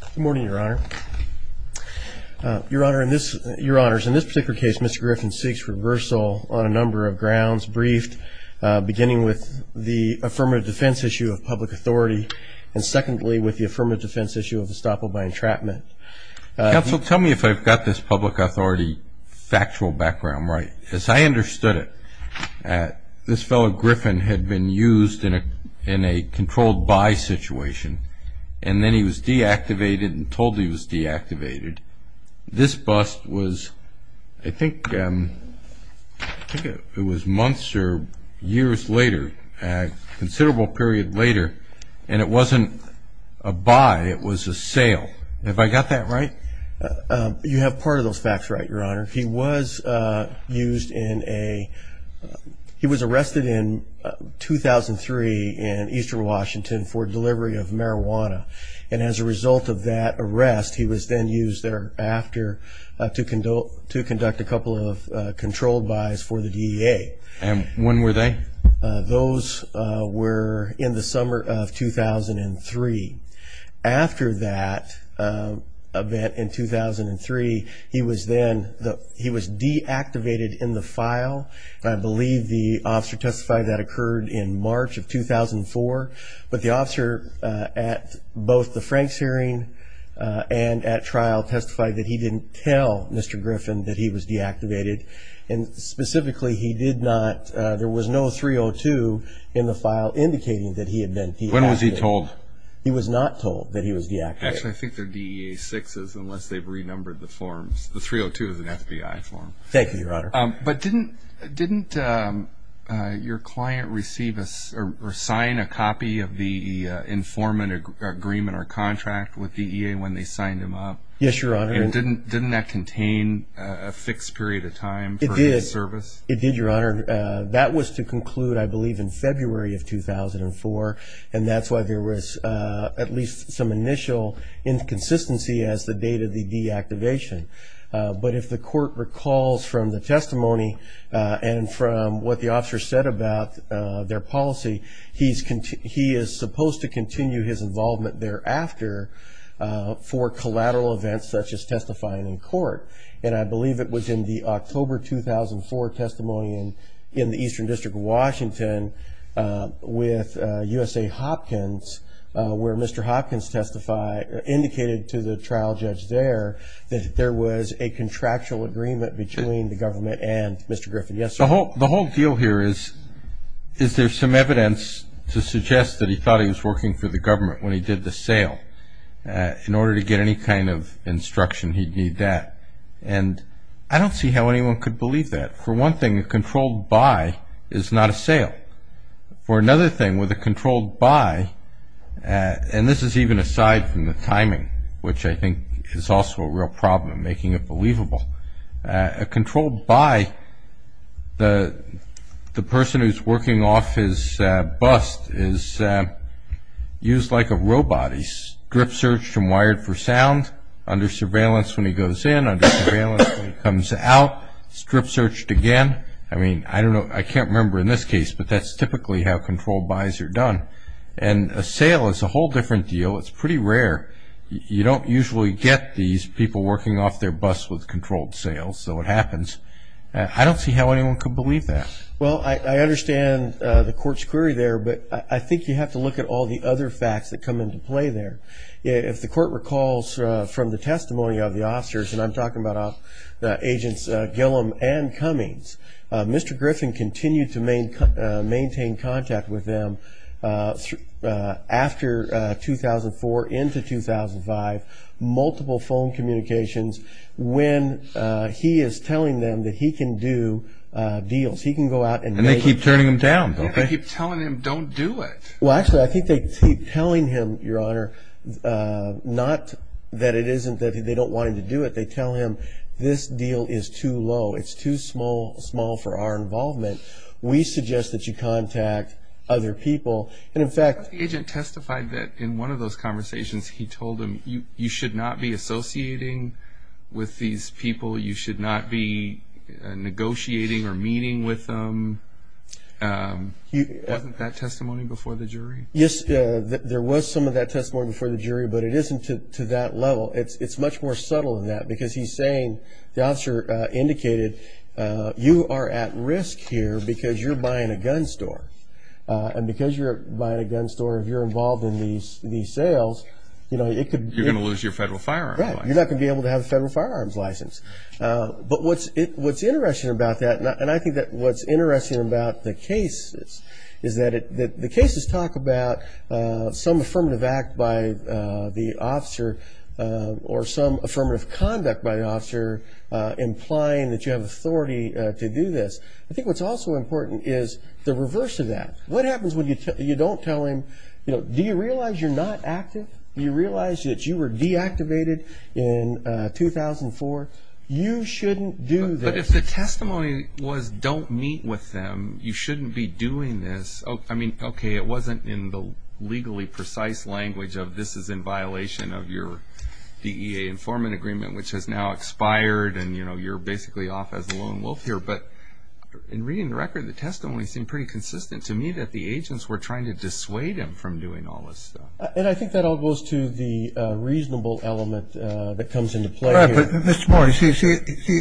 Good morning, your honor. Your honor, in this, your honors, in this particular case, Mr. Griffin seeks reversal on a number of grounds briefed, beginning with the affirmative defense issue of public authority, and secondly, with the affirmative defense issue of estoppel by entrapment. Counsel, tell me if I've got this public authority factual background right. As I understood it, this fellow Griffin had been used in a controlled buy situation, and then he was deactivated and told he was deactivated. And this bust was, I think, I think it was months or years later, a considerable period later, and it wasn't a buy, it was a sale. Have I got that right? You have part of those facts right, your honor. He was used in a, he was arrested in 2003 in eastern Washington for delivery of marijuana, and as a result of that arrest, he was then used thereafter to conduct a couple of controlled buys for the DEA. And when were they? Those were in the summer of 2003. After that event in 2003, he was then, he was deactivated in the file. I believe the officer testified that occurred in March of 2004, but the officer at both the Franks hearing and at trial testified that he didn't tell Mr. Griffin that he was deactivated. And specifically, he did not, there was no 302 in the file indicating that he had been deactivated. When was he told? He was not told that he was deactivated. Actually, I think they're DEA sixes, unless they've renumbered the forms. The 302 is an FBI form. Thank you, your honor. But didn't your client receive a, or sign a copy of the informant agreement or contract with DEA when they signed him up? Yes, your honor. And didn't that contain a fixed period of time for his service? It did, your honor. That was to conclude, I believe, in February of 2004, and that's why there was at least some initial inconsistency as to the date of the deactivation. But if the court recalls from the testimony and from what the officer said about their policy, he is supposed to continue his involvement thereafter for collateral events such as testifying in court. And I believe it was in the October 2004 testimony in the Eastern District of Washington with USA Hopkins, where Mr. Hopkins testified, indicated to the trial judge there that there was a contractual agreement between the government and Mr. Griffin. The whole deal here is, is there some evidence to suggest that he thought he was working for the government when he did the sale? In order to get any kind of instruction, he'd need that. And I don't see how anyone could believe that. For one thing, a controlled buy is not a sale. For another thing, with a controlled buy, and this is even aside from the timing, which I think is also a real problem, making it believable, a controlled buy, the person who's working off his bust is used like a robot. He's strip-searched and wired for sound, under surveillance when he goes in, under surveillance when he comes out, strip-searched again. I mean, I don't know, I can't remember in this case, but that's typically how controlled buys are done. And a sale is a whole different deal. It's pretty rare. You don't usually get these people working off their busts with controlled sales, so it happens. I don't see how anyone could believe that. Well, I understand the court's query there, but I think you have to look at all the other facts that come into play there. If the court recalls from the testimony of the officers, and I'm talking about Agents Gillum and Cummings, Mr. Griffin continued to maintain contact with them after 2004 into 2005, multiple phone communications, when he is telling them that he can do deals. He can go out and make them. And they keep turning him down. Yeah, they keep telling him, don't do it. Well, actually, I think they keep telling him, Your Honor, not that it isn't that they don't want him to do it. They tell him, This deal is too low. It's too small for our involvement. We suggest that you contact other people. And, in fact, the agent testified that in one of those conversations he told him, You should not be associating with these people. You should not be negotiating or meeting with them. Wasn't that testimony before the jury? Yes, there was some of that testimony before the jury, but it isn't to that level. It's much more subtle than that because he's saying, the officer indicated, You are at risk here because you're buying a gun store. And because you're buying a gun store, if you're involved in these sales, it could be- You're going to lose your federal firearms license. Right, you're not going to be able to have a federal firearms license. But what's interesting about that, and I think what's interesting about the cases, is that the cases talk about some affirmative act by the officer or some affirmative conduct by the officer implying that you have authority to do this. I think what's also important is the reverse of that. What happens when you don't tell him, Do you realize you're not active? Do you realize that you were deactivated in 2004? You shouldn't do this. But if the testimony was, Don't meet with them. You shouldn't be doing this. I mean, okay, it wasn't in the legally precise language of, This is in violation of your DEA informant agreement, which has now expired, and you're basically off as a lone wolf here. But in reading the record, the testimony seemed pretty consistent to me that the agents were trying to dissuade him from doing all this stuff. And I think that all goes to the reasonable element that comes into play here. Mr. Moore, you see,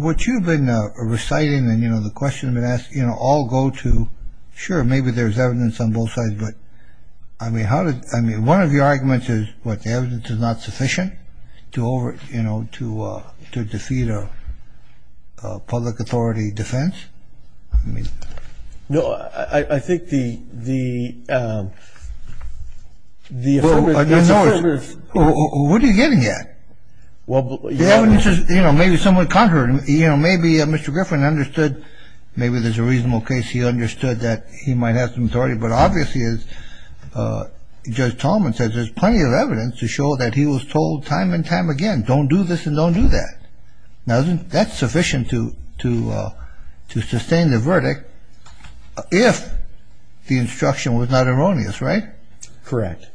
what you've been reciting and, you know, the question has been asked, you know, all go to, sure, maybe there's evidence on both sides, but, I mean, how does, I mean, one of your arguments is, what, the evidence is not sufficient to over, you know, to defeat a public authority defense? No, I think the affirmative. What are you getting at? Well, the evidence is, you know, maybe somewhat contrary. You know, maybe Mr. Griffin understood, maybe there's a reasonable case he understood that he might have some authority. But obviously, as Judge Tolman says, there's plenty of evidence to show that he was told time and time again, Don't do this and don't do that. Now, isn't that sufficient to sustain the verdict if the instruction was not erroneous, right? Correct.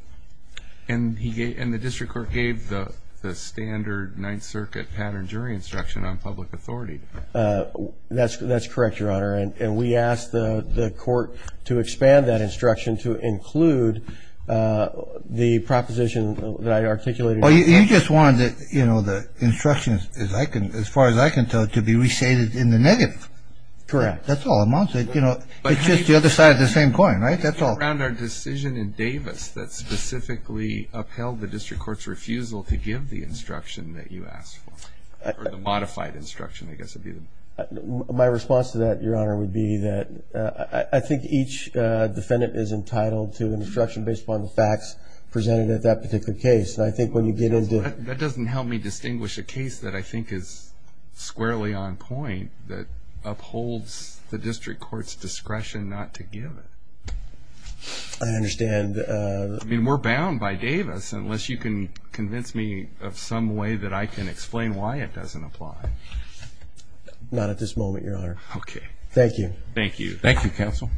And the district court gave the standard Ninth Circuit pattern jury instruction on public authority. That's correct, Your Honor. And we asked the court to expand that instruction to include the proposition that I articulated. Well, you just wanted the instructions, as far as I can tell, to be recited in the negative. Correct. That's all. It's just the other side of the same coin, right? That's all. What about our decision in Davis that specifically upheld the district court's refusal to give the instruction that you asked for, or the modified instruction, I guess would be the... My response to that, Your Honor, would be that I think each defendant is entitled to instruction based upon the facts presented at that particular case. And I think when you get into... That doesn't help me distinguish a case that I think is squarely on point that upholds the district court's discretion not to give it. I understand. I mean, we're bound by Davis unless you can convince me of some way that I can explain why it doesn't apply. Not at this moment, Your Honor. Okay. Thank you. Thank you. Thank you, counsel.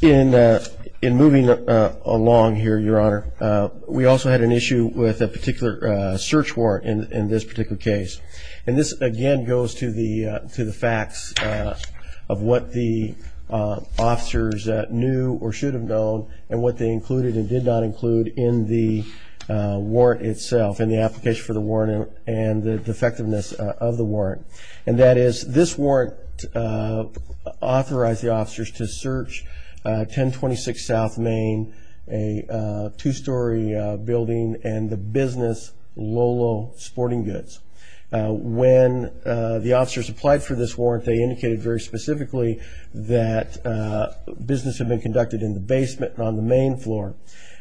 In moving along here, Your Honor, we also had an issue with a particular search warrant in this particular case. And this, again, goes to the facts of what the officers knew or should have known and what they included and did not include in the warrant itself, in the application for the warrant and the defectiveness of the warrant. And that is this warrant authorized the officers to search 1026 South Main, a two-story building, and the business Lolo Sporting Goods. When the officers applied for this warrant, they indicated very specifically that business had been conducted in the basement on the main floor.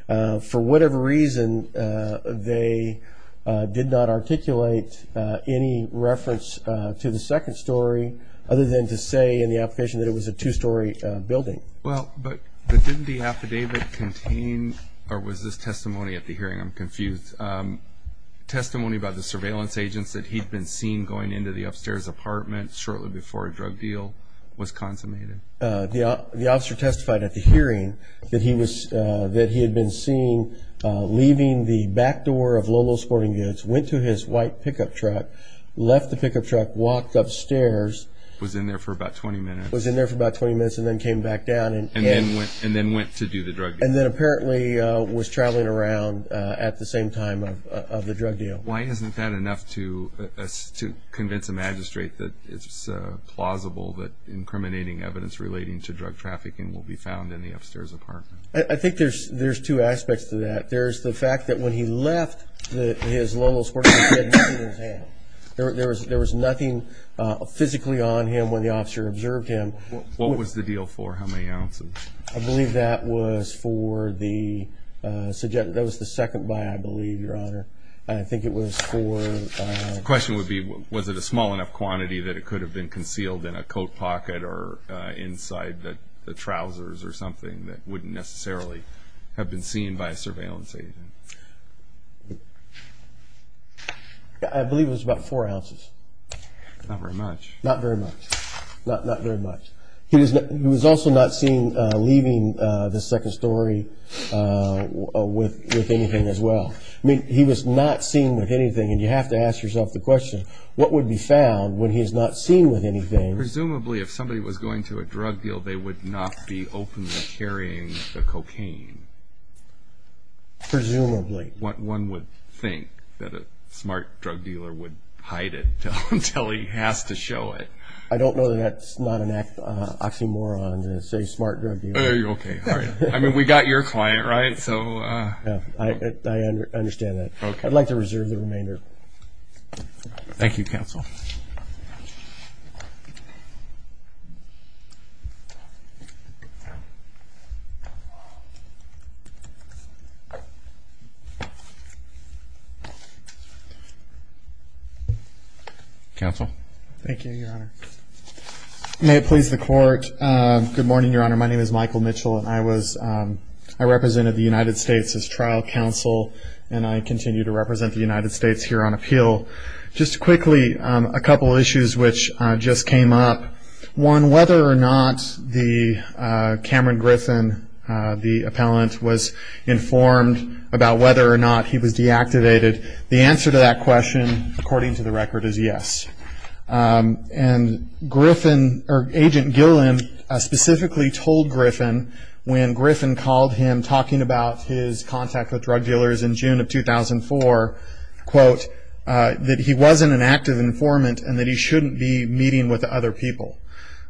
For whatever reason, they did not articulate any reference to the second story, other than to say in the application that it was a two-story building. Well, but didn't the affidavit contain, or was this testimony at the hearing? I'm confused. Testimony about the surveillance agents that he'd been seen going into the upstairs apartment shortly before a drug deal was consummated. The officer testified at the hearing that he had been seen leaving the back door of Lolo Sporting Goods, went to his white pickup truck, left the pickup truck, walked upstairs. Was in there for about 20 minutes. Was in there for about 20 minutes and then came back down. And then went to do the drug deal. And then apparently was traveling around at the same time of the drug deal. Why isn't that enough to convince a magistrate that it's plausible that incriminating evidence relating to drug trafficking will be found in the upstairs apartment? I think there's two aspects to that. There's the fact that when he left his Lolo Sporting Goods, there was nothing physically on him when the officer observed him. What was the deal for? How many ounces? I believe that was for the second buy, I believe, Your Honor. I think it was for... The question would be, was it a small enough quantity that it could have been concealed in a coat pocket or inside the trousers or something that wouldn't necessarily have been seen by a surveillance agent? I believe it was about four ounces. Not very much. Not very much. Not very much. He was also not seen leaving the second story with anything as well. I mean, he was not seen with anything. And you have to ask yourself the question, what would be found when he's not seen with anything? Presumably if somebody was going to a drug deal, they would not be openly carrying the cocaine. Presumably. Presumably. One would think that a smart drug dealer would hide it until he has to show it. I don't know that that's not an oxymoron to say smart drug dealer. Okay, all right. I mean, we got your client, right? I understand that. Okay. I'd like to reserve the remainder. Thank you, counsel. Counsel. Thank you, Your Honor. May it please the Court. Good morning, Your Honor. My name is Michael Mitchell, and I represented the United States as trial counsel, and I continue to represent the United States here on appeal. Just quickly, a couple of issues which just came up. One, whether or not the Cameron Griffin, the appellant, was informed about whether or not he was deactivated, the answer to that question, according to the record, is yes. And Griffin, or Agent Gillen, specifically told Griffin when Griffin called him, talking about his contact with drug dealers in June of 2004, quote, that he wasn't an active informant and that he shouldn't be meeting with other people.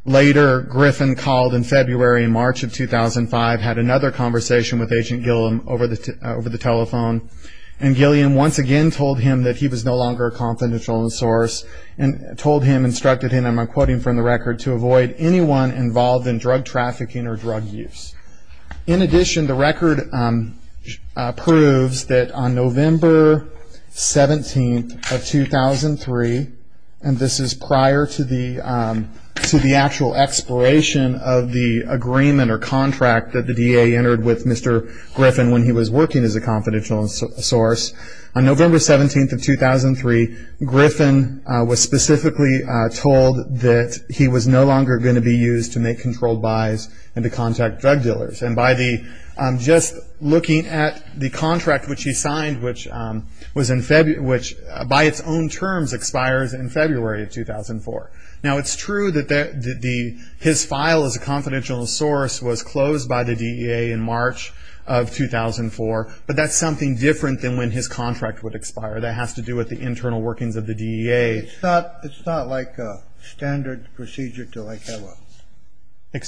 Later, Griffin called in February and March of 2005, had another conversation with Agent Gillen over the telephone, and Gillen once again told him that he was no longer a confidential source and told him, instructed him, I'm quoting from the record, to avoid anyone involved in drug trafficking or drug use. In addition, the record proves that on November 17th of 2003, and this is prior to the actual expiration of the agreement or contract that the DA entered with Mr. Griffin when he was working as a confidential source, on November 17th of 2003, Griffin was specifically told that he was no longer going to be used to make controlled buys and to contact drug dealers. And just looking at the contract which he signed, which by its own terms expires in February of 2004. Now, it's true that his file as a confidential source was closed by the DEA in March of 2004, but that's something different than when his contract would expire. That has to do with the internal workings of the DEA. It's not like a standard procedure to have a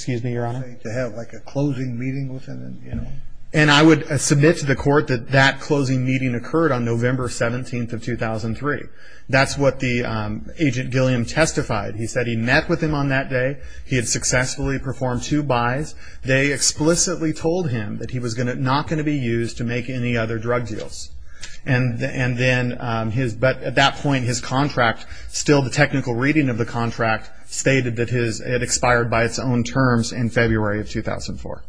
closing meeting with him. And I would submit to the court that that closing meeting occurred on November 17th of 2003. That's what the Agent Gillen testified. He said he met with him on that day. He had successfully performed two buys. They explicitly told him that he was not going to be used to make any other drug deals. But at that point his contract, still the technical reading of the contract, stated that it expired by its own terms in February of 2004.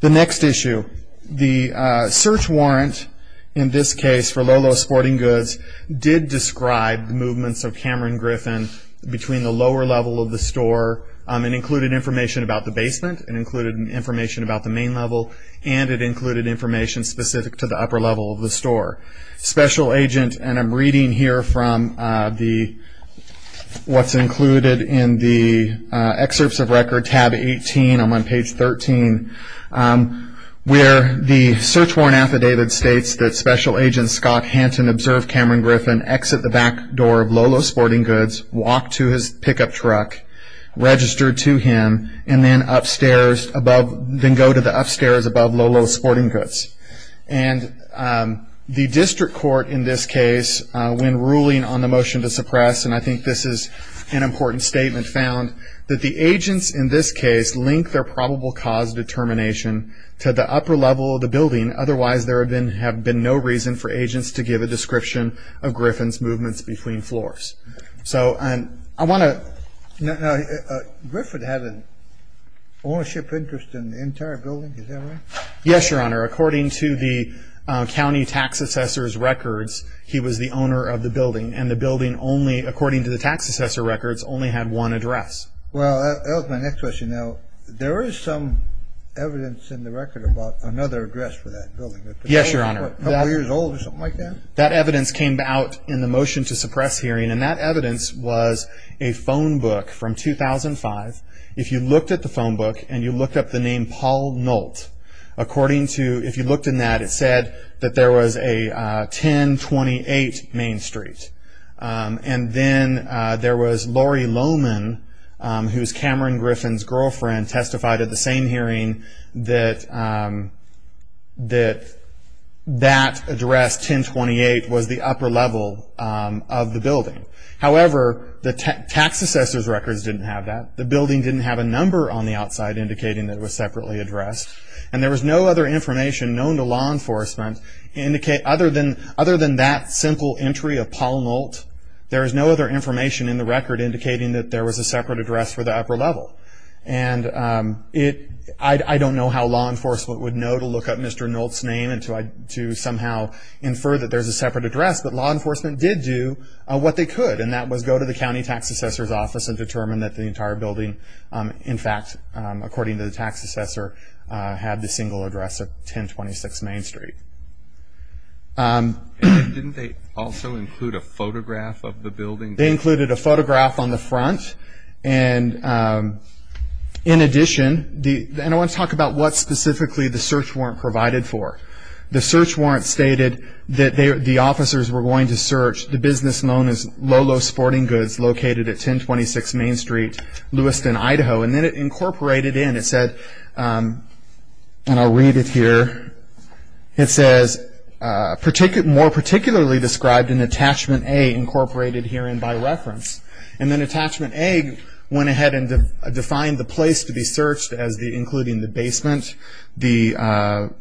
The next issue, the search warrant in this case for Lolo Sporting Goods did describe the movements of Cameron Griffin between the lower level of the store and included information about the basement. It included information about the main level, and it included information specific to the upper level of the store. Special Agent, and I'm reading here from what's included in the excerpts of record, tab 18, I'm on page 13, where the search warrant affidavit states that Special Agent Scott Hanton observed Cameron Griffin exit the back door of Lolo Sporting Goods, walked to his pickup truck, registered to him, and then go to the upstairs above Lolo Sporting Goods. And the district court in this case, when ruling on the motion to suppress, and I think this is an important statement, found that the agents in this case link their probable cause determination to the upper level of the building. Otherwise there have been no reason for agents to give a description of Griffin's movements between floors. So I want to ---- Now, Griffin had an ownership interest in the entire building, is that right? Yes, Your Honor. According to the county tax assessor's records, he was the owner of the building, and the building only, according to the tax assessor records, only had one address. Well, that was my next question. Now, there is some evidence in the record about another address for that building. Yes, Your Honor. A couple years old or something like that? That evidence came out in the motion to suppress hearing, and that evidence was a phone book from 2005. If you looked at the phone book and you looked up the name Paul Nolt, according to ---- if you looked in that, it said that there was a 1028 Main Street. And then there was Lori Loman, who is Cameron Griffin's girlfriend, testified at the same hearing that that address, 1028, was the upper level of the building. However, the tax assessor's records didn't have that. The building didn't have a number on the outside indicating that it was separately addressed. And there was no other information known to law enforcement other than that simple entry of Paul Nolt. There is no other information in the record indicating that there was a separate address for the upper level. And I don't know how law enforcement would know to look up Mr. Nolt's name and to somehow infer that there is a separate address, but law enforcement did do what they could, and that was go to the county tax assessor's office and determine that the entire building, in fact, according to the tax assessor, had the single address of 1026 Main Street. Didn't they also include a photograph of the building? They included a photograph on the front, and in addition, and I want to talk about what specifically the search warrant provided for. The search warrant stated that the officers were going to search the business known as Lolo Sporting Goods, located at 1026 Main Street, Lewiston, Idaho. And then it incorporated in, it said, and I'll read it here, it says, more particularly described in Attachment A incorporated herein by reference. And then Attachment A went ahead and defined the place to be searched as including the basement, the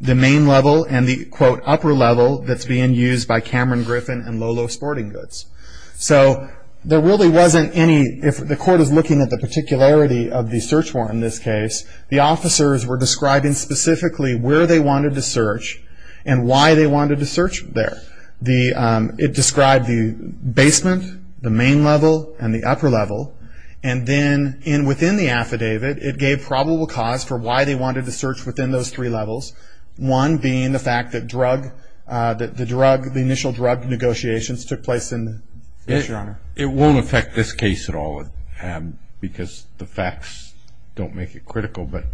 main level, and the, quote, upper level that's being used by Cameron Griffin and Lolo Sporting Goods. So there really wasn't any, if the court is looking at the particularity of the search warrant in this case, the officers were describing specifically where they wanted to search and why they wanted to search there. It described the basement, the main level, and the upper level, and then within the affidavit, it gave probable cause for why they wanted to search within those three levels, one being the fact that the drug, the initial drug negotiations took place in. It won't affect this case at all because the facts don't make it critical, but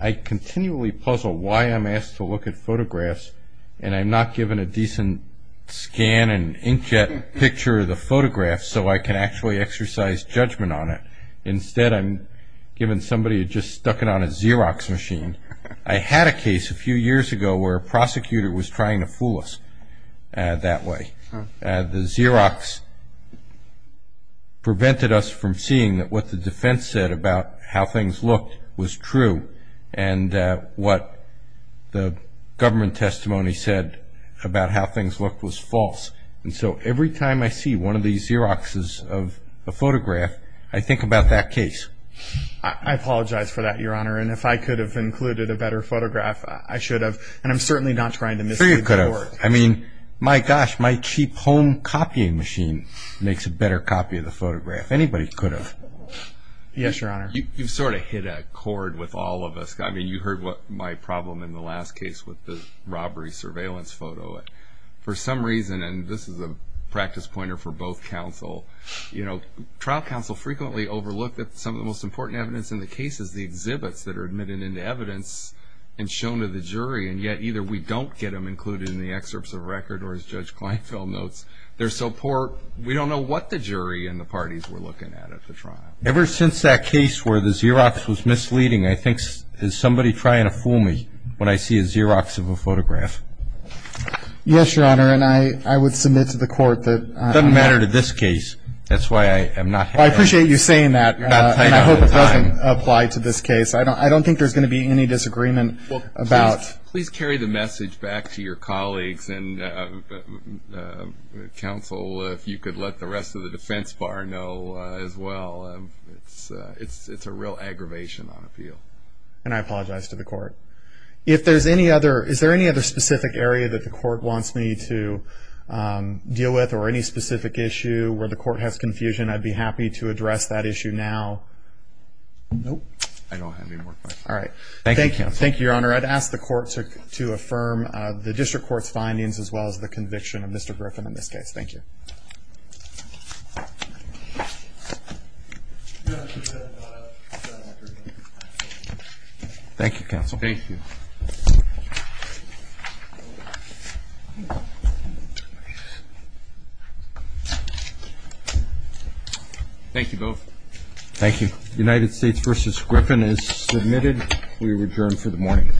I continually puzzle why I'm asked to look at photographs and I'm not given a decent scan and inkjet picture of the photograph so I can actually exercise judgment on it. Instead, I'm given somebody who just stuck it on a Xerox machine. I had a case a few years ago where a prosecutor was trying to fool us that way. The Xerox prevented us from seeing that what the defense said about how things looked was true and what the government testimony said about how things looked was false. And so every time I see one of these Xeroxes of a photograph, I think about that case. I apologize for that, Your Honor, and if I could have included a better photograph, I should have. And I'm certainly not trying to mislead the court. I mean, my gosh, my cheap home copying machine makes a better copy of the photograph. Anybody could have. Yes, Your Honor. You've sort of hit a chord with all of us. I mean, you heard my problem in the last case with the robbery surveillance photo. For some reason, and this is a practice pointer for both counsel, trial counsel frequently overlook that some of the most important evidence in the case is the exhibits that are admitted into evidence and shown to the jury, and yet either we don't get them included in the excerpts of record or, as Judge Kleinfeld notes, they're so poor we don't know what the jury and the parties were looking at at the trial. Ever since that case where the Xerox was misleading, I think there's somebody trying to fool me when I see a Xerox of a photograph. Yes, Your Honor, and I would submit to the court that – It doesn't matter to this case. That's why I am not – I appreciate you saying that, and I hope it doesn't apply to this case. I don't think there's going to be any disagreement about – Please carry the message back to your colleagues, and counsel, if you could let the rest of the defense bar know as well. It's a real aggravation on appeal. And I apologize to the court. Is there any other specific area that the court wants me to deal with or any specific issue where the court has confusion? I'd be happy to address that issue now. Nope. I don't have any more questions. All right. Thank you, counsel. Thank you, Your Honor. I'd ask the court to affirm the district court's findings as well as the conviction of Mr. Griffin in this case. Thank you. Thank you, counsel. Thank you. Thank you both. Thank you. United States v. Griffin is submitted. We are adjourned for the morning.